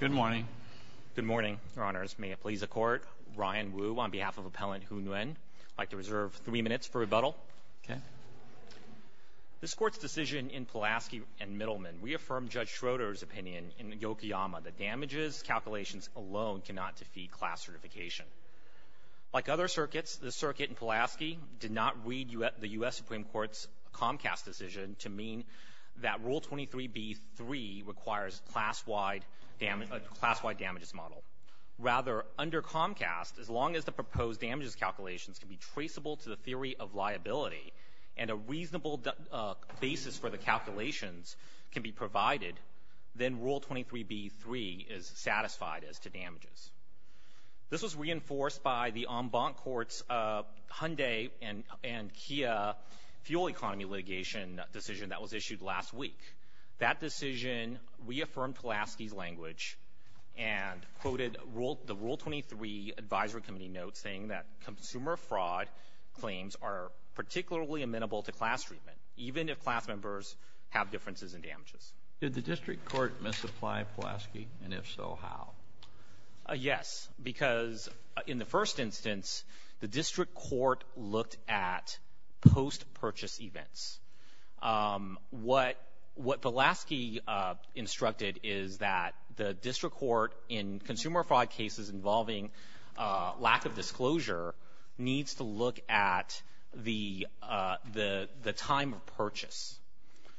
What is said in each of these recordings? Good morning. Good morning, Your Honors. May it please the Court, Ryan Wu on behalf of Appellant Huu Nguyen. I'd like to reserve three minutes for rebuttal. Okay. This Court's decision in Pulaski and Middleman reaffirmed Judge Schroeder's opinion in the Yokoyama that damages calculations alone cannot defeat class certification. Like other circuits, the circuit in Pulaski did not read the U.S. Supreme Court's Comcast decision to mean that Rule 23b-3 requires a class-wide damages model. Rather, under Comcast, as long as the proposed damages calculations can be traceable to the theory of liability and a reasonable basis for the calculations can be provided, then Rule 23b-3 is satisfied as to damages. This was reinforced by the en banc court's Hyundai and Kia fuel economy litigation decision that was issued last week. That decision reaffirmed Pulaski's language and quoted the Rule 23 Advisory Committee notes saying that consumer fraud claims are particularly amenable to class treatment, even if class members have differences in damages. Did the district court misapply Pulaski, and if so, how? Yes. Because in the first instance, the district court looked at post-purchase events. What Pulaski instructed is that the district court in consumer fraud cases involving lack of disclosure needs to look at the time of purchase.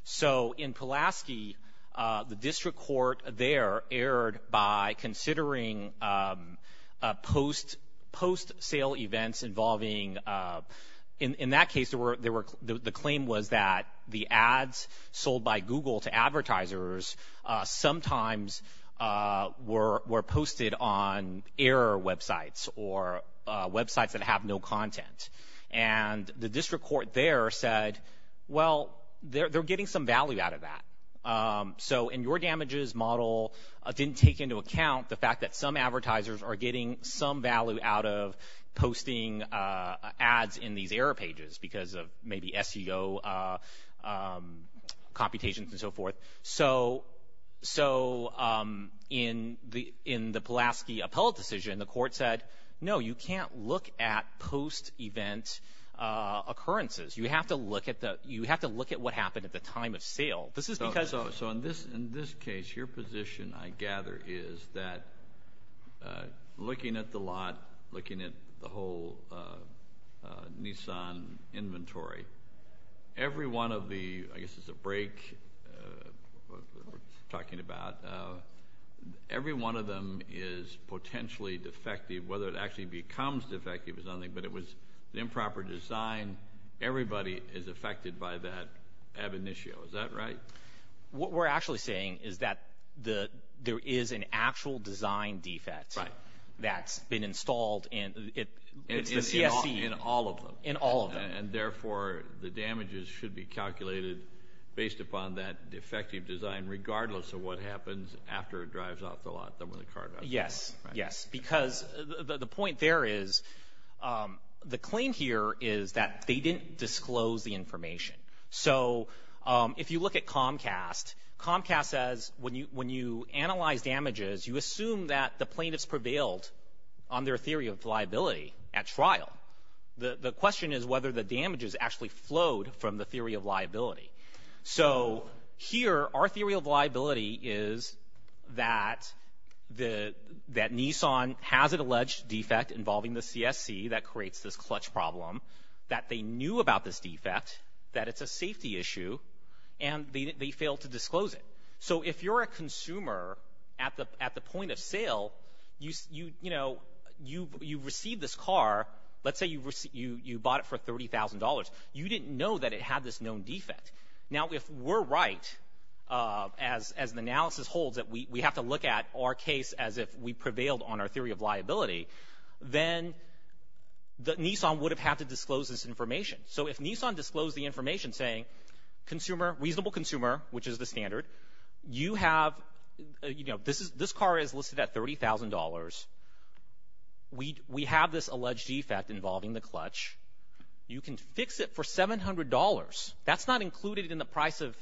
So in Pulaski, the district court there erred by considering post-sale events involving — in that case, the claim was that the ads sold by Google to advertisers sometimes were posted on error websites or websites that have no content. And the district court there said, well, they're getting some value out of that. So in your damages model, it didn't take into account the fact that some advertisers are getting some value out of posting ads in these error pages because of maybe SEO computations and so forth. So in the Pulaski appellate decision, the court said, no, you can't look at post-event occurrences. You have to look at what happened at the time of sale. This is because — So in this case, your position, I gather, is that looking at the lot, looking at the whole Nissan inventory, every one of the — I guess it's a break that we're talking about. Every one of them is potentially defective. Whether it actually becomes defective is another thing. But it was improper design. Everybody is affected by that ab initio. Is that right? What we're actually saying is that there is an actual design defect that's been installed in — It's the CSC. In all of them. In all of them. And therefore, the damages should be calculated based upon that defective design, regardless of what happens after it drives off the lot, then when the car drives off. Yes. Because the point there is, the claim here is that they didn't disclose the information. So if you look at Comcast, Comcast says when you analyze damages, you assume that the plaintiffs prevailed on their theory of liability at trial. The question is whether the damages actually flowed from the theory of liability. So here, our theory of liability is that Nissan has an alleged defect involving the CSC that creates this clutch problem, that they knew about this defect, that it's a safety issue, and they failed to disclose it. So if you're a consumer, at the point of sale, you've received this car. Let's say you bought it for $30,000. You didn't know that it had this known defect. Now, if we're right, as the analysis holds, that we have to look at our case as if we prevailed on our theory of liability, then Nissan would have had to disclose this information. So if Nissan disclosed the information saying, reasonable consumer, which is the standard, this car is listed at $30,000. We have this alleged defect involving the clutch. You can fix it for $700. That's not included in the price of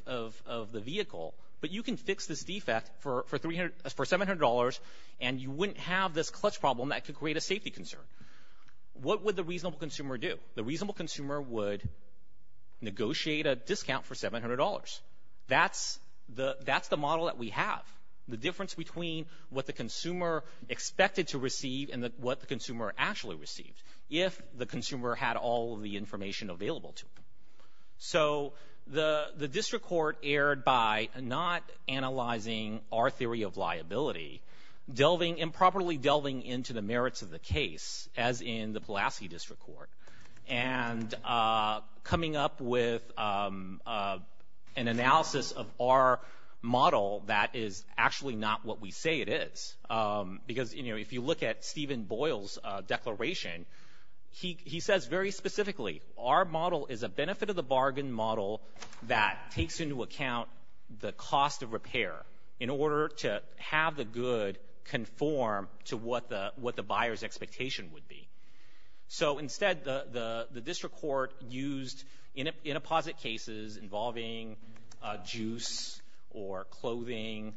the vehicle, but you can fix this defect for $700, and you wouldn't have this clutch problem that could create a safety concern. What would the reasonable consumer do? The reasonable consumer would negotiate a discount for $700. That's the model that we have, the difference between what the consumer expected to receive and what the consumer actually received, if the consumer had all of the information available to them. So the district court erred by not analyzing our theory of liability, improperly delving into the merits of the case, as in the Pulaski District Court, and coming up with an analysis of our model that is actually not what we say it is. Because, you know, if you look at Stephen Boyle's declaration, he says very specifically, our model is a benefit-of-the-bargain model that takes into account the cost of repair in order to have the good conform to what the buyer's expectation would be. So instead, the district court used in a posit cases involving juice or clothing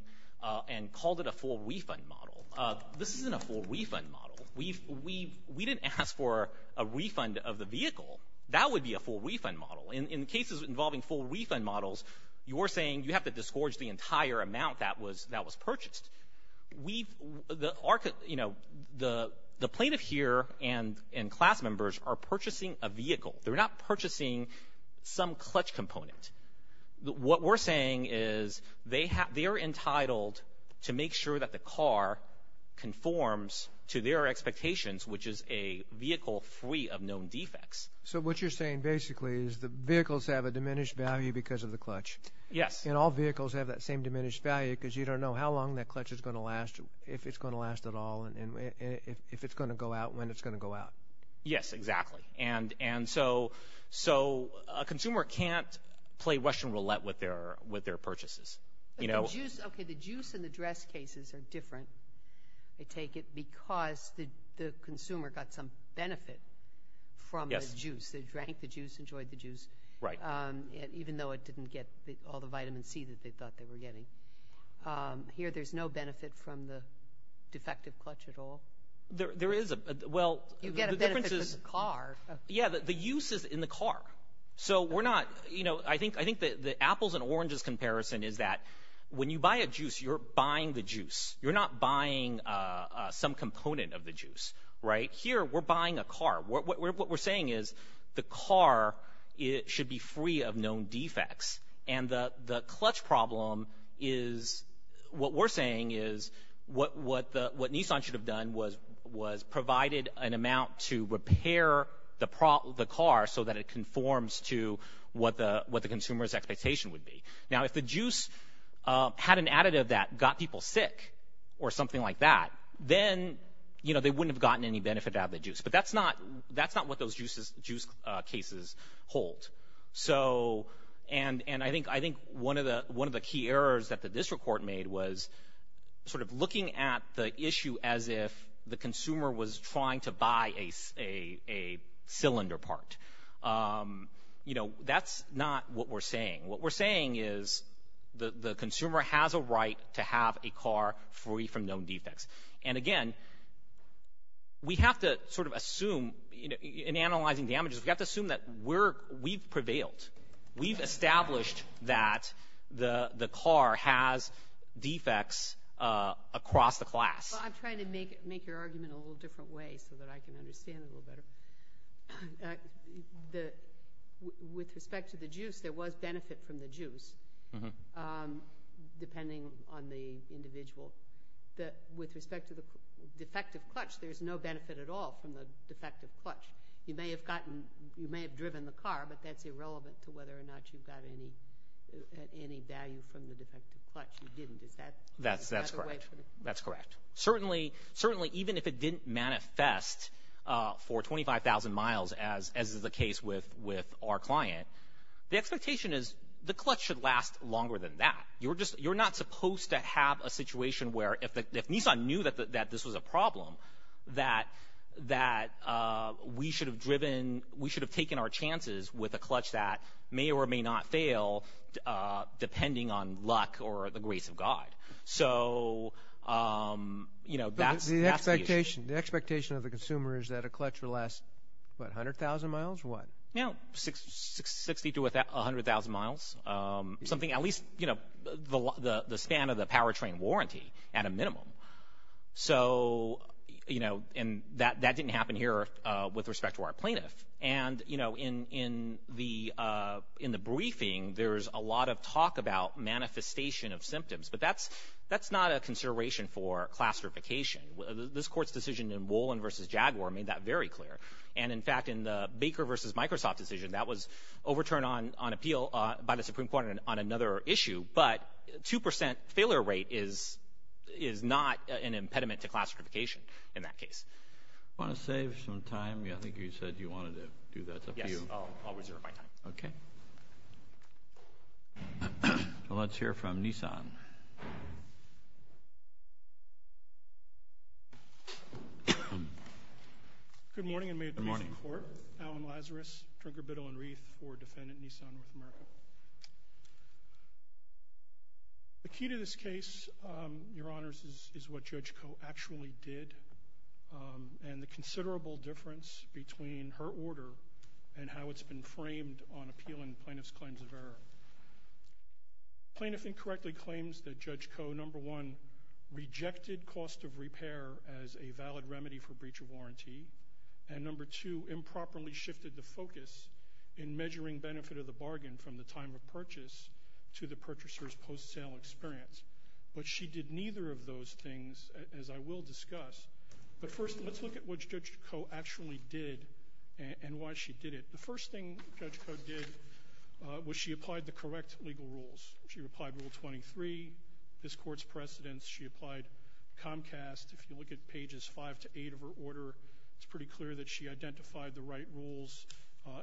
and called it a full refund model. This isn't a full refund model. We didn't ask for a refund of the vehicle. That would be a full refund model. In cases involving full refund models, you're saying you have to disgorge the entire amount that was purchased. The plaintiff here and class members are purchasing a vehicle. They're not purchasing some clutch component. What we're saying is they're entitled to make sure that the car conforms to their expectations, which is a vehicle free of known defects. So what you're saying basically is the vehicles have a diminished value because of the clutch. Yes. And all vehicles have that same diminished value because you don't know how long that clutch is going to last, if it's going to last at all, and if it's going to go out, when it's going to go out. Yes, exactly. And so a consumer can't play Russian roulette with their purchases. Okay, the juice and the dress cases are different, I take it, because the consumer got some benefit from the juice. They drank the juice, enjoyed the juice, even though it didn't get all the vitamin C that they thought they were getting. Here there's no benefit from the defective clutch at all? There is. You get a benefit for the car. Yeah, the use is in the car. So I think the apples and oranges comparison is that when you buy a juice, you're buying the juice. You're not buying some component of the juice, right? Here we're buying a car. What we're saying is the car should be free of known defects, and the clutch problem is what we're saying is what Nissan should have done was provided an amount to repair the car so that it conforms to what the consumer's expectation would be. Now, if the juice had an additive that got people sick or something like that, then they wouldn't have gotten any benefit out of the juice. But that's not what those juice cases hold. And I think one of the key errors that the district court made was sort of looking at the issue as if the consumer was trying to buy a cylinder part. That's not what we're saying. What we're saying is the consumer has a right to have a car free from known defects. And again, we have to sort of assume in analyzing damages, we have to assume that we've prevailed. We've established that the car has defects across the class. Well, I'm trying to make your argument a little different way so that I can understand it a little better. With respect to the juice, there was benefit from the juice, depending on the individual. With respect to the defective clutch, there's no benefit at all from the defective clutch. You may have driven the car, but that's irrelevant to whether or not you got any value from the defective clutch. You didn't. Is that a way for it? That's correct. Certainly, even if it didn't manifest for 25,000 miles, as is the case with our client, the expectation is the clutch should last longer than that. You're not supposed to have a situation where if Nissan knew that this was a problem, that we should have taken our chances with a clutch that may or may not fail, depending on luck or the grace of God. So, you know, that's the expectation. The expectation of the consumer is that a clutch will last, what, 100,000 miles or what? You know, 60 to 100,000 miles, something at least, you know, the span of the powertrain warranty at a minimum. So, you know, and that didn't happen here with respect to our plaintiff. And, you know, in the briefing, there's a lot of talk about manifestation of symptoms, but that's not a consideration for class certification. This Court's decision in Wollin v. Jaguar made that very clear. And, in fact, in the Baker v. Microsoft decision, that was overturned on appeal by the Supreme Court on another issue. But 2% failure rate is not an impediment to class certification in that case. Want to save some time? I think you said you wanted to do that. Yes, I'll reserve my time. Okay. Well, let's hear from Nissan. Good morning, and may it please the Court. Good morning. Alan Lazarus, drinker, biddle, and wreath for Defendant Nissan North America. The key to this case, Your Honors, is what Judge Koh actually did and the considerable difference between her order and how it's been framed on appeal and plaintiff's claims of error. Plaintiff incorrectly claims that Judge Koh, number one, rejected cost of repair as a valid remedy for breach of warranty, and, number two, improperly shifted the focus in measuring benefit of the bargain from the time of purchase to the purchaser's post-sale experience. But she did neither of those things, as I will discuss. But first, let's look at what Judge Koh actually did and why she did it. The first thing Judge Koh did was she applied the correct legal rules. She applied Rule 23, this Court's precedents. She applied Comcast. If you look at pages 5 to 8 of her order, it's pretty clear that she identified the right rules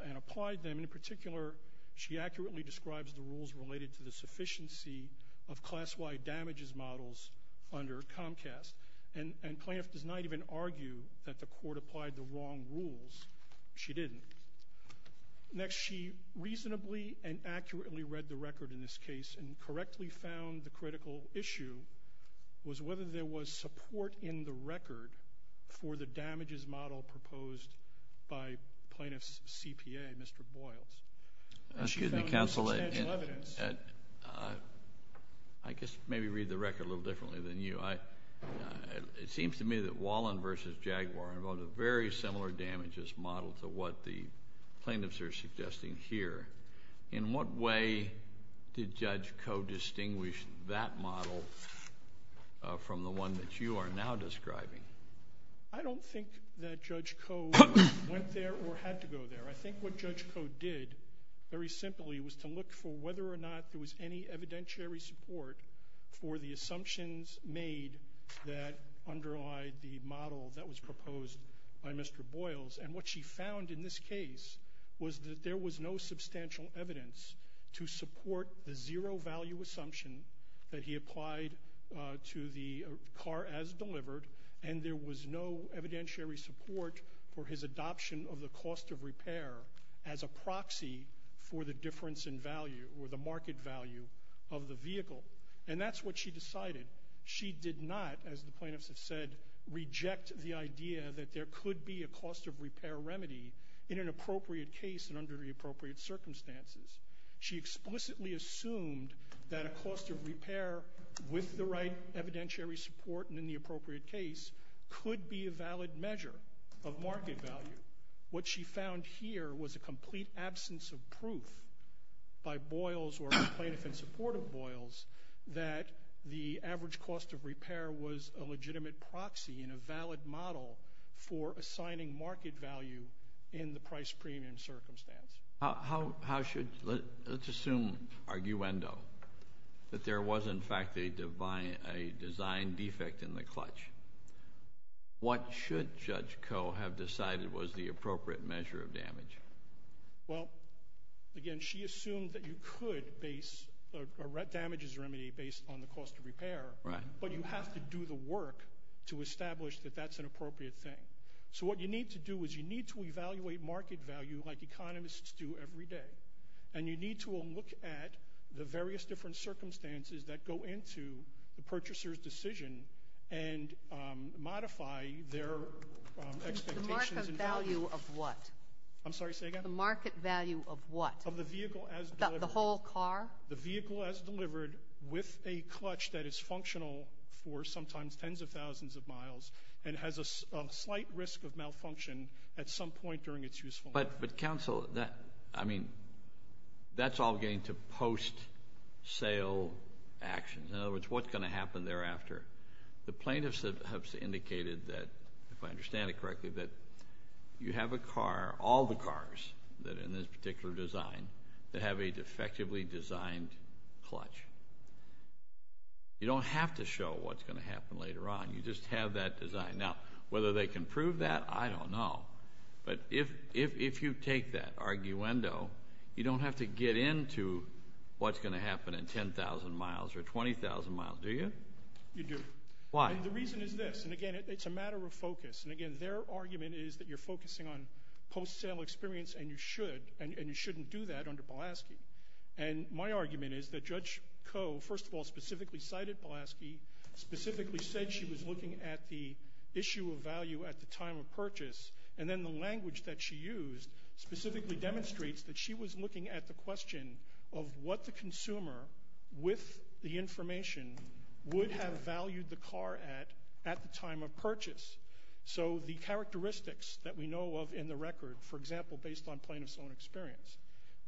and applied them. And in particular, she accurately describes the rules related to the sufficiency of class-wide damages models under Comcast. And plaintiff does not even argue that the Court applied the wrong rules. She didn't. Next, she reasonably and accurately read the record in this case and correctly found the critical issue was whether there was support in the record for the damages model proposed by plaintiff's CPA, Mr. Boyles. Excuse me, counsel. I guess maybe read the record a little differently than you. It seems to me that Wallen v. Jaguar involved a very similar damages model to what the plaintiffs are suggesting here. In what way did Judge Koh distinguish that model from the one that you are now describing? I don't think that Judge Koh went there or had to go there. I think what Judge Koh did, very simply, was to look for whether or not there was any evidentiary support for the assumptions made that underlie the model that was proposed by Mr. Boyles. And what she found in this case was that there was no substantial evidence to support the zero-value assumption that he applied to the car as delivered, and there was no evidentiary support for his adoption of the cost of repair as a proxy for the difference in value or the market value of the vehicle. And that's what she decided. She did not, as the plaintiffs have said, reject the idea that there could be a cost of repair remedy in an appropriate case and under the appropriate circumstances. She explicitly assumed that a cost of repair with the right evidentiary support and in the appropriate case could be a valid measure of market value. What she found here was a complete absence of proof by Boyles or the plaintiff in support of Boyles that the average cost of repair was a legitimate proxy and a valid model for assigning market value in the price-premium circumstance. Let's assume, arguendo, that there was, in fact, a design defect in the clutch. What should Judge Koh have decided was the appropriate measure of damage? Well, again, she assumed that you could base a damages remedy based on the cost of repair, but you have to do the work to establish that that's an appropriate thing. So what you need to do is you need to evaluate market value like economists do every day, and you need to look at the various different circumstances that go into the purchaser's decision and modify their expectations. The market value of what? I'm sorry, say again? The market value of what? Of the vehicle as delivered. The whole car? The vehicle as delivered with a clutch that is functional for sometimes tens of thousands of miles and has a slight risk of malfunction at some point during its useful life. But, counsel, that's all getting to post-sale actions. In other words, what's going to happen thereafter? The plaintiffs have indicated that, if I understand it correctly, that you have a car, all the cars in this particular design, that have a defectively designed clutch. You don't have to show what's going to happen later on. You just have that design. Now, whether they can prove that, I don't know. But if you take that arguendo, you don't have to get into what's going to happen in 10,000 miles or 20,000 miles, do you? You do. Why? The reason is this. And, again, it's a matter of focus. And, again, their argument is that you're focusing on post-sale experience, and you should, and you shouldn't do that under Pulaski. And my argument is that Judge Koh, first of all, specifically cited Pulaski, specifically said she was looking at the issue of value at the time of purchase, and then the language that she used specifically demonstrates that she was looking at the question of what the consumer, with the information, would have valued the car at at the time of purchase. So the characteristics that we know of in the record, for example, based on plaintiff's own experience,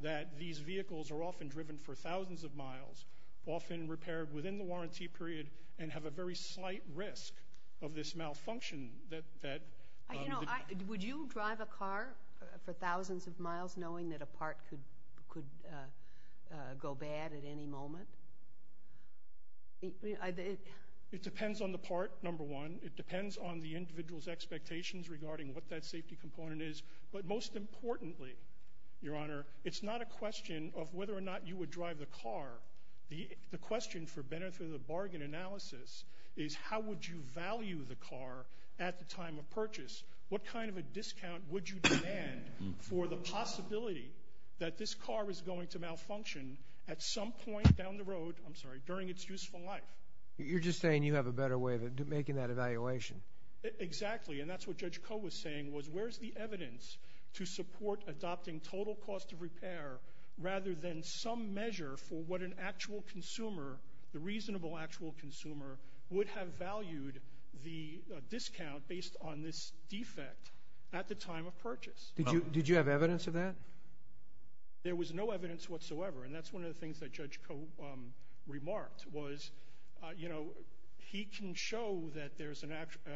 that these vehicles are often driven for thousands of miles, often repaired within the warranty period, and have a very slight risk of this malfunction. Would you drive a car for thousands of miles knowing that a part could go bad at any moment? It depends on the part, number one. It depends on the individual's expectations regarding what that safety component is. But most importantly, Your Honor, it's not a question of whether or not you would drive the car. The question for benefit of the bargain analysis is how would you value the car at the time of purchase? What kind of a discount would you demand for the possibility that this car is going to malfunction at some point down the road, I'm sorry, during its useful life? You're just saying you have a better way of making that evaluation. Exactly, and that's what Judge Koh was saying, was where's the evidence to support adopting total cost of repair rather than some measure for what an actual consumer, the reasonable actual consumer, would have valued the discount based on this defect at the time of purchase? Did you have evidence of that? There was no evidence whatsoever, and that's one of the things that Judge Koh remarked, you know, he can show that there's an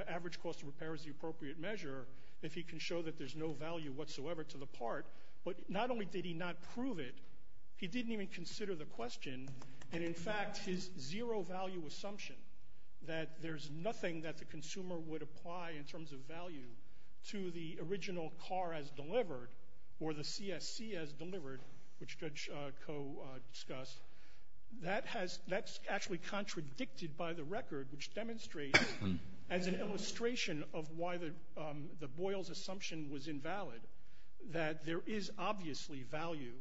average cost of repair is the appropriate measure if he can show that there's no value whatsoever to the part. But not only did he not prove it, he didn't even consider the question. And, in fact, his zero-value assumption that there's nothing that the consumer would apply in terms of value to the original car as delivered or the CSC as delivered, which Judge Koh discussed, that's actually contradicted by the record, which demonstrates as an illustration of why the Boyle's assumption was invalid, that there is obviously value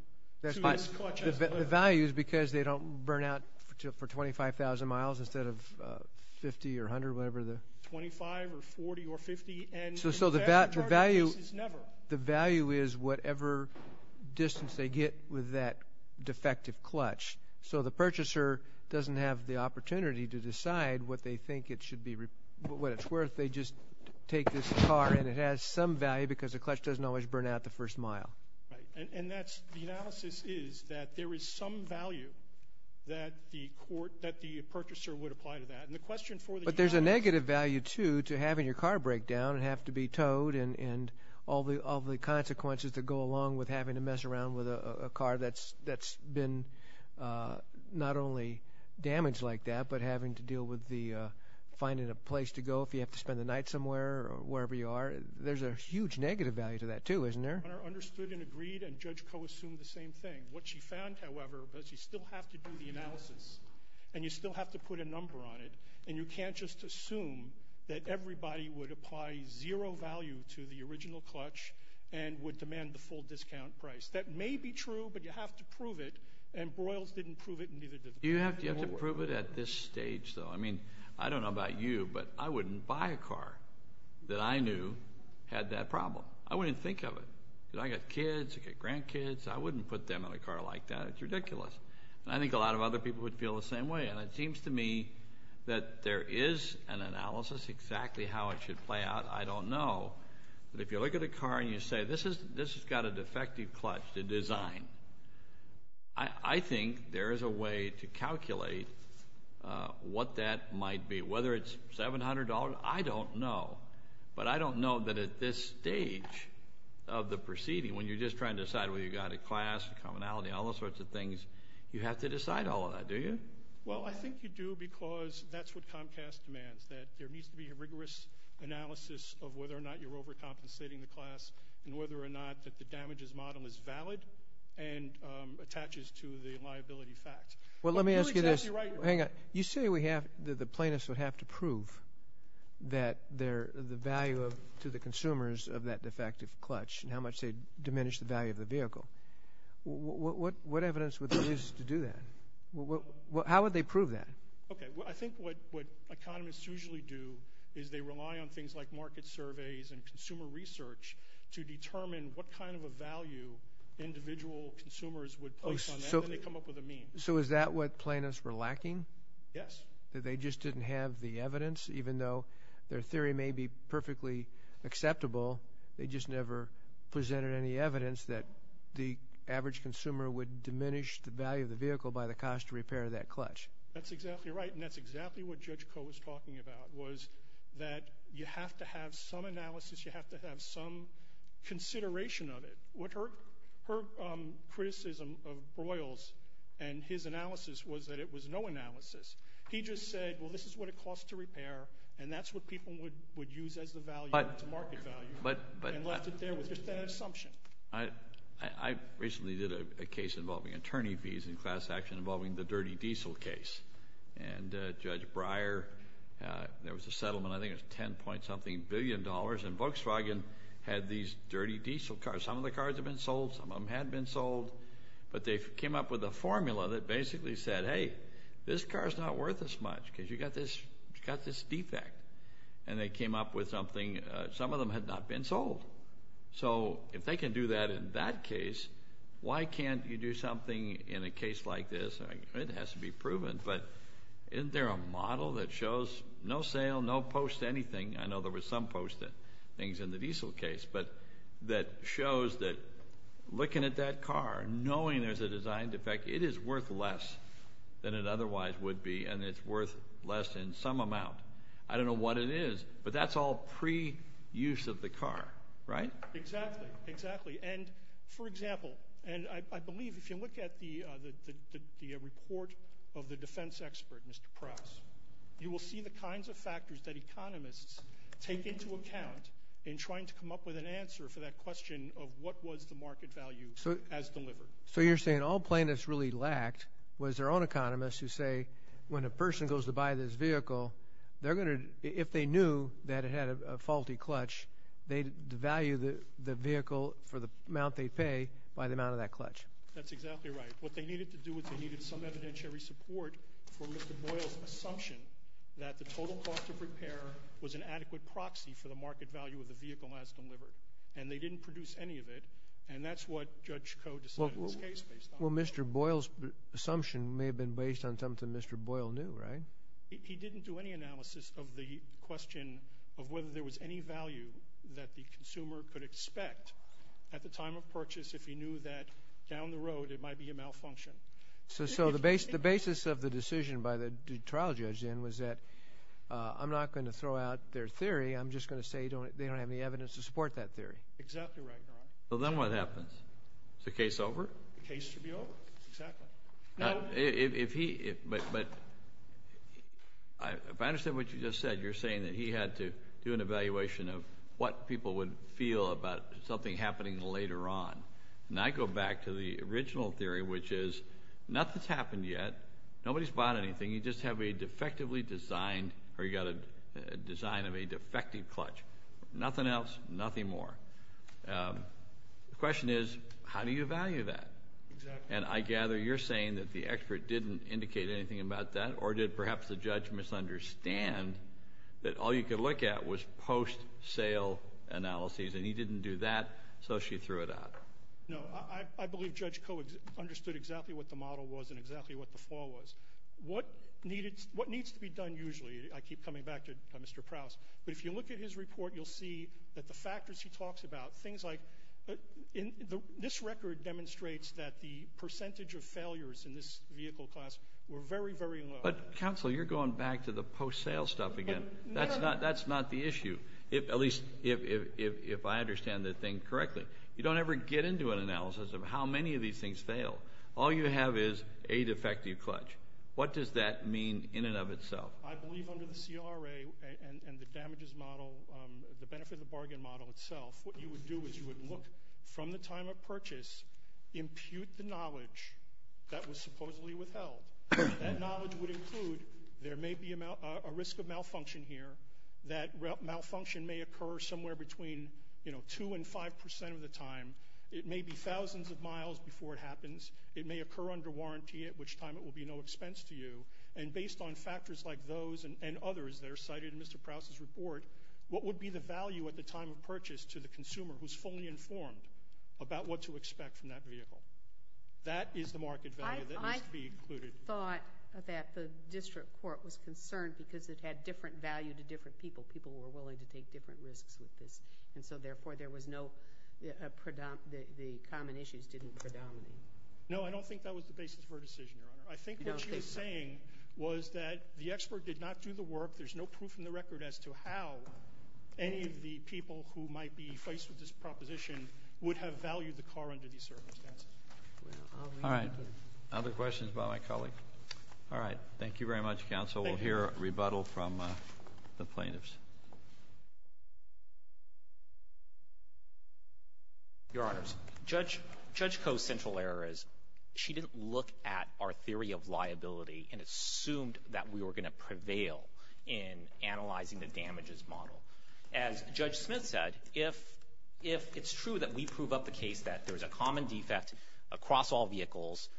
to this clutch as delivered. The value is because they don't burn out for 25,000 miles instead of 50 or 100, whatever the? 25 or 40 or 50. So the value is whatever distance they get with that defective clutch, so the purchaser doesn't have the opportunity to decide what they think it should be, what it's worth. They just take this car, and it has some value because the clutch doesn't always burn out the first mile. Right. And that's the analysis is that there is some value that the purchaser would apply to that. But there's a negative value, too, to having your car break down and have to be towed and all the consequences that go along with having to mess around with a car that's been not only damaged like that but having to deal with finding a place to go if you have to spend the night somewhere or wherever you are. There's a huge negative value to that, too, isn't there? Understood and agreed, and Judge Koh assumed the same thing. What she found, however, was you still have to do the analysis, and you still have to put a number on it, and you can't just assume that everybody would apply zero value to the original clutch and would demand the full discount price. That may be true, but you have to prove it, and Broyles didn't prove it, and neither did the board. You have to prove it at this stage, though. I mean, I don't know about you, but I wouldn't buy a car that I knew had that problem. I wouldn't think of it. I've got kids, I've got grandkids. I wouldn't put them in a car like that. It's ridiculous. And I think a lot of other people would feel the same way. And it seems to me that there is an analysis exactly how it should play out. I don't know. But if you look at a car and you say this has got a defective clutch to design, I think there is a way to calculate what that might be. Whether it's $700, I don't know. But I don't know that at this stage of the proceeding, when you're just trying to decide whether you've got a class, commonality, and all those sorts of things, you have to decide all of that, do you? Well, I think you do because that's what Comcast demands, that there needs to be a rigorous analysis of whether or not you're overcompensating the class and whether or not that the damages model is valid and attaches to the liability facts. Well, let me ask you this. You're exactly right, Your Honor. Hang on. You say the plaintiffs would have to prove that the value to the consumers of that defective clutch and how much they'd diminish the value of the vehicle. What evidence would there be to do that? How would they prove that? Okay. I think what economists usually do is they rely on things like market surveys and consumer research to determine what kind of a value individual consumers would place on that, and they come up with a mean. So is that what plaintiffs were lacking? Yes. That they just didn't have the evidence, even though their theory may be perfectly acceptable, they just never presented any evidence that the average consumer would diminish the value of the vehicle by the cost of repair of that clutch. That's exactly right, and that's exactly what Judge Koh was talking about, was that you have to have some analysis. You have to have some consideration of it. Her criticism of Broyles and his analysis was that it was no analysis. He just said, well, this is what it costs to repair, and that's what people would use as the market value and left it there with just that assumption. I recently did a case involving attorney fees in class action involving the dirty diesel case, and Judge Breyer, there was a settlement, I think it was $10 point something billion, and Volkswagen had these dirty diesel cars. Some of the cars had been sold. Some of them had been sold, but they came up with a formula that basically said, hey, this car is not worth as much because you've got this defect, and they came up with something. Some of them had not been sold. So if they can do that in that case, why can't you do something in a case like this? It has to be proven, but isn't there a model that shows no sale, no post anything? I know there was some post things in the diesel case, but that shows that looking at that car, knowing there's a design defect, it is worth less than it otherwise would be, and it's worth less in some amount. I don't know what it is, but that's all pre-use of the car, right? Exactly, exactly, and for example, and I believe if you look at the report of the defense expert, Mr. Pross, you will see the kinds of factors that economists take into account in trying to come up with an answer for that question of what was the market value as delivered. So you're saying all plaintiffs really lacked was their own economists who say when a person goes to buy this vehicle, if they knew that it had a faulty clutch, they'd value the vehicle for the amount they'd pay by the amount of that clutch. That's exactly right. What they needed to do was they needed some evidentiary support for Mr. Boyle's assumption that the total cost of repair was an adequate proxy for the market value of the vehicle as delivered, and they didn't produce any of it, and that's what Judge Coe decided in this case based on that. Well, Mr. Boyle's assumption may have been based on something Mr. Boyle knew, right? He didn't do any analysis of the question of whether there was any value that the consumer could expect at the time of purchase if he knew that down the road it might be a malfunction. So the basis of the decision by the trial judge then was that I'm not going to throw out their theory, I'm just going to say they don't have any evidence to support that theory. Exactly right, Your Honor. So then what happens? Is the case over? The case should be over, exactly. But if I understand what you just said, you're saying that he had to do an evaluation of what people would feel about something happening later on. And I go back to the original theory, which is nothing's happened yet, nobody's bought anything, you just have a defectively designed or you've got a design of a defective clutch. Nothing else, nothing more. The question is, how do you value that? Exactly. And I gather you're saying that the expert didn't indicate anything about that or did perhaps the judge misunderstand that all you could look at was post-sale analyses and he didn't do that so she threw it out. No, I believe Judge Koh understood exactly what the model was and exactly what the flaw was. What needs to be done usually, I keep coming back to Mr. Prowse, but if you look at his report you'll see that the factors he talks about, things like this record demonstrates that the percentage of failures in this vehicle class were very, very low. But counsel, you're going back to the post-sale stuff again. That's not the issue, at least if I understand the thing correctly. You don't ever get into an analysis of how many of these things fail. All you have is a defective clutch. What does that mean in and of itself? Well, I believe under the CRA and the damages model, the benefit of the bargain model itself, what you would do is you would look from the time of purchase, impute the knowledge that was supposedly withheld. That knowledge would include there may be a risk of malfunction here, that malfunction may occur somewhere between 2% and 5% of the time. It may be thousands of miles before it happens. It may occur under warranty at which time it will be no expense to you. And based on factors like those and others that are cited in Mr. Prowse's report, what would be the value at the time of purchase to the consumer who's fully informed about what to expect from that vehicle? That is the market value that needs to be included. I thought that the district court was concerned because it had different value to different people. People were willing to take different risks with this. And so, therefore, there was no – the common issues didn't predominate. No, I don't think that was the basis for a decision, Your Honor. I think what she was saying was that the expert did not do the work. There's no proof in the record as to how any of the people who might be faced with this proposition would have valued the car under these circumstances. All right. Other questions about my colleague? All right. Thank you very much, counsel. We'll hear a rebuttal from the plaintiffs. Your Honors, Judge Coe's central error is she didn't look at our theory of liability and assumed that we were going to prevail in analyzing the damages model. As Judge Smith said, if it's true that we prove up the case that there's a common defect across all vehicles,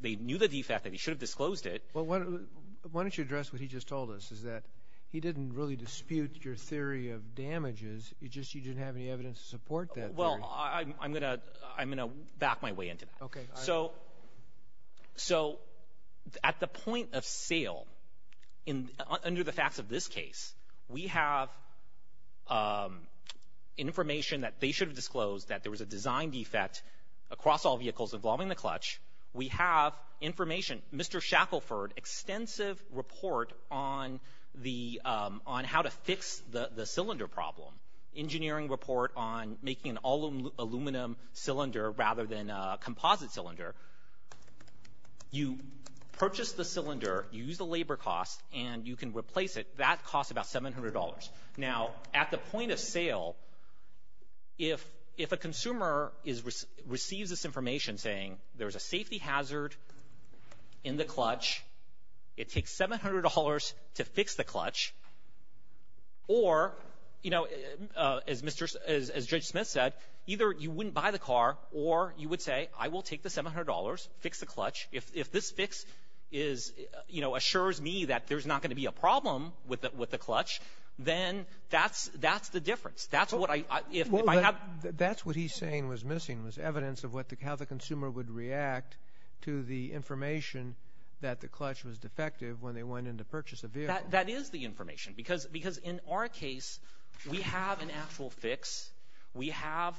they knew the defect and they should have disclosed it. Well, why don't you address what he just told us, is that he didn't really dispute your theory of damages. It's just you didn't have any evidence to support that theory. Well, I'm going to back my way into that. Okay. So at the point of sale, under the facts of this case, we have information that they should have disclosed that there was a design defect across all vehicles involving the clutch. We have information. Mr. Shackelford, extensive report on how to fix the cylinder problem, engineering report on making an aluminum cylinder rather than a composite cylinder. You purchase the cylinder, you use the labor cost, and you can replace it. That costs about $700. Now, at the point of sale, if a consumer receives this information saying there's a safety hazard in the clutch, it takes $700 to fix the clutch, or, you know, as Judge Smith said, either you wouldn't buy the car or you would say, I will take the $700, fix the clutch. If this fix is, you know, assures me that there's not going to be a problem with the clutch, then that's the difference. That's what he's saying was missing was evidence of how the consumer would react to the information that the clutch was defective when they went in to purchase a vehicle. That is the information. Because in our case, we have an actual fix. We have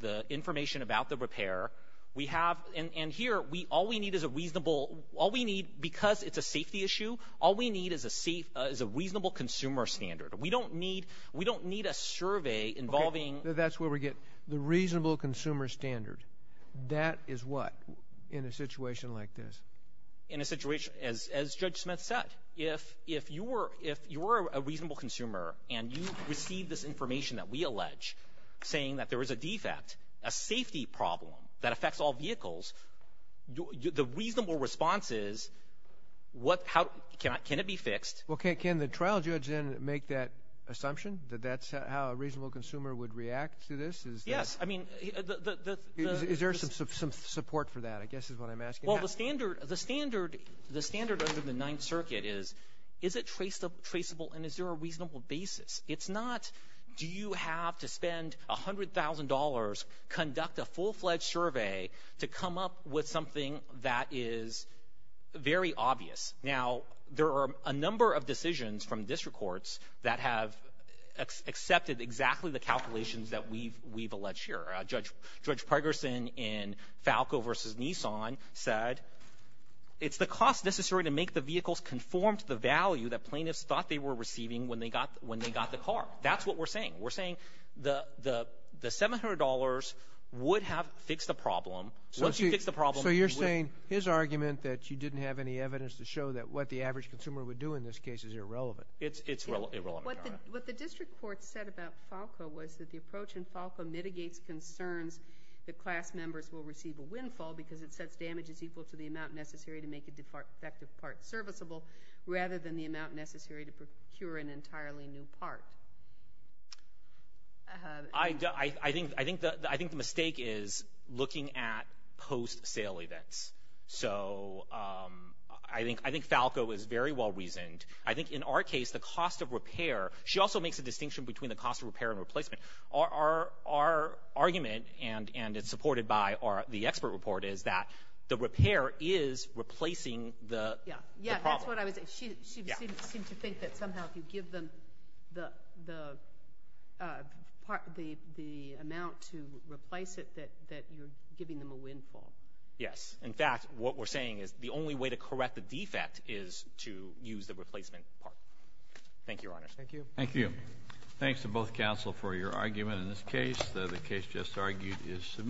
the information about the repair. And here, all we need is a reasonable, all we need, because it's a safety issue, all we need is a reasonable consumer standard. We don't need a survey involving. That's where we get the reasonable consumer standard. That is what in a situation like this? In a situation, as Judge Smith said, if you were a reasonable consumer and you received this information that we allege, saying that there was a defect, a safety problem that affects all vehicles, the reasonable response is, can it be fixed? Well, can the trial judge then make that assumption, that that's how a reasonable consumer would react to this? Yes. Is there some support for that, I guess is what I'm asking. Well, the standard under the Ninth Circuit is, is it traceable and is there a reasonable basis? It's not, do you have to spend $100,000, conduct a full-fledged survey to come up with something that is very obvious. Now, there are a number of decisions from district courts that have accepted exactly the calculations that we've alleged here. Judge Pregerson in Falco v. Nissan said, it's the cost necessary to make the vehicles conform to the value that plaintiffs thought they were receiving when they got the car. That's what we're saying. We're saying the $700 would have fixed the problem. So you're saying his argument that you didn't have any evidence to show that what the average consumer would do in this case is irrelevant. It's irrelevant. What the district court said about Falco was that the approach in Falco mitigates concerns that class members will receive a windfall because it sets damages equal to the amount necessary to make a defective part serviceable rather than the amount necessary to procure an entirely new part. I think the mistake is looking at post-sale events. So I think Falco is very well reasoned. I think in our case the cost of repair, she also makes a distinction between the cost of repair and replacement. Our argument, and it's supported by the expert report, is that the repair is replacing the problem. She seemed to think that somehow if you give them the amount to replace it that you're giving them a windfall. Yes. In fact, what we're saying is the only way to correct the defect is to use the replacement part. Thank you, Your Honor. Thank you. Thank you. Thanks to both counsel for your argument in this case. The case just argued is submitted.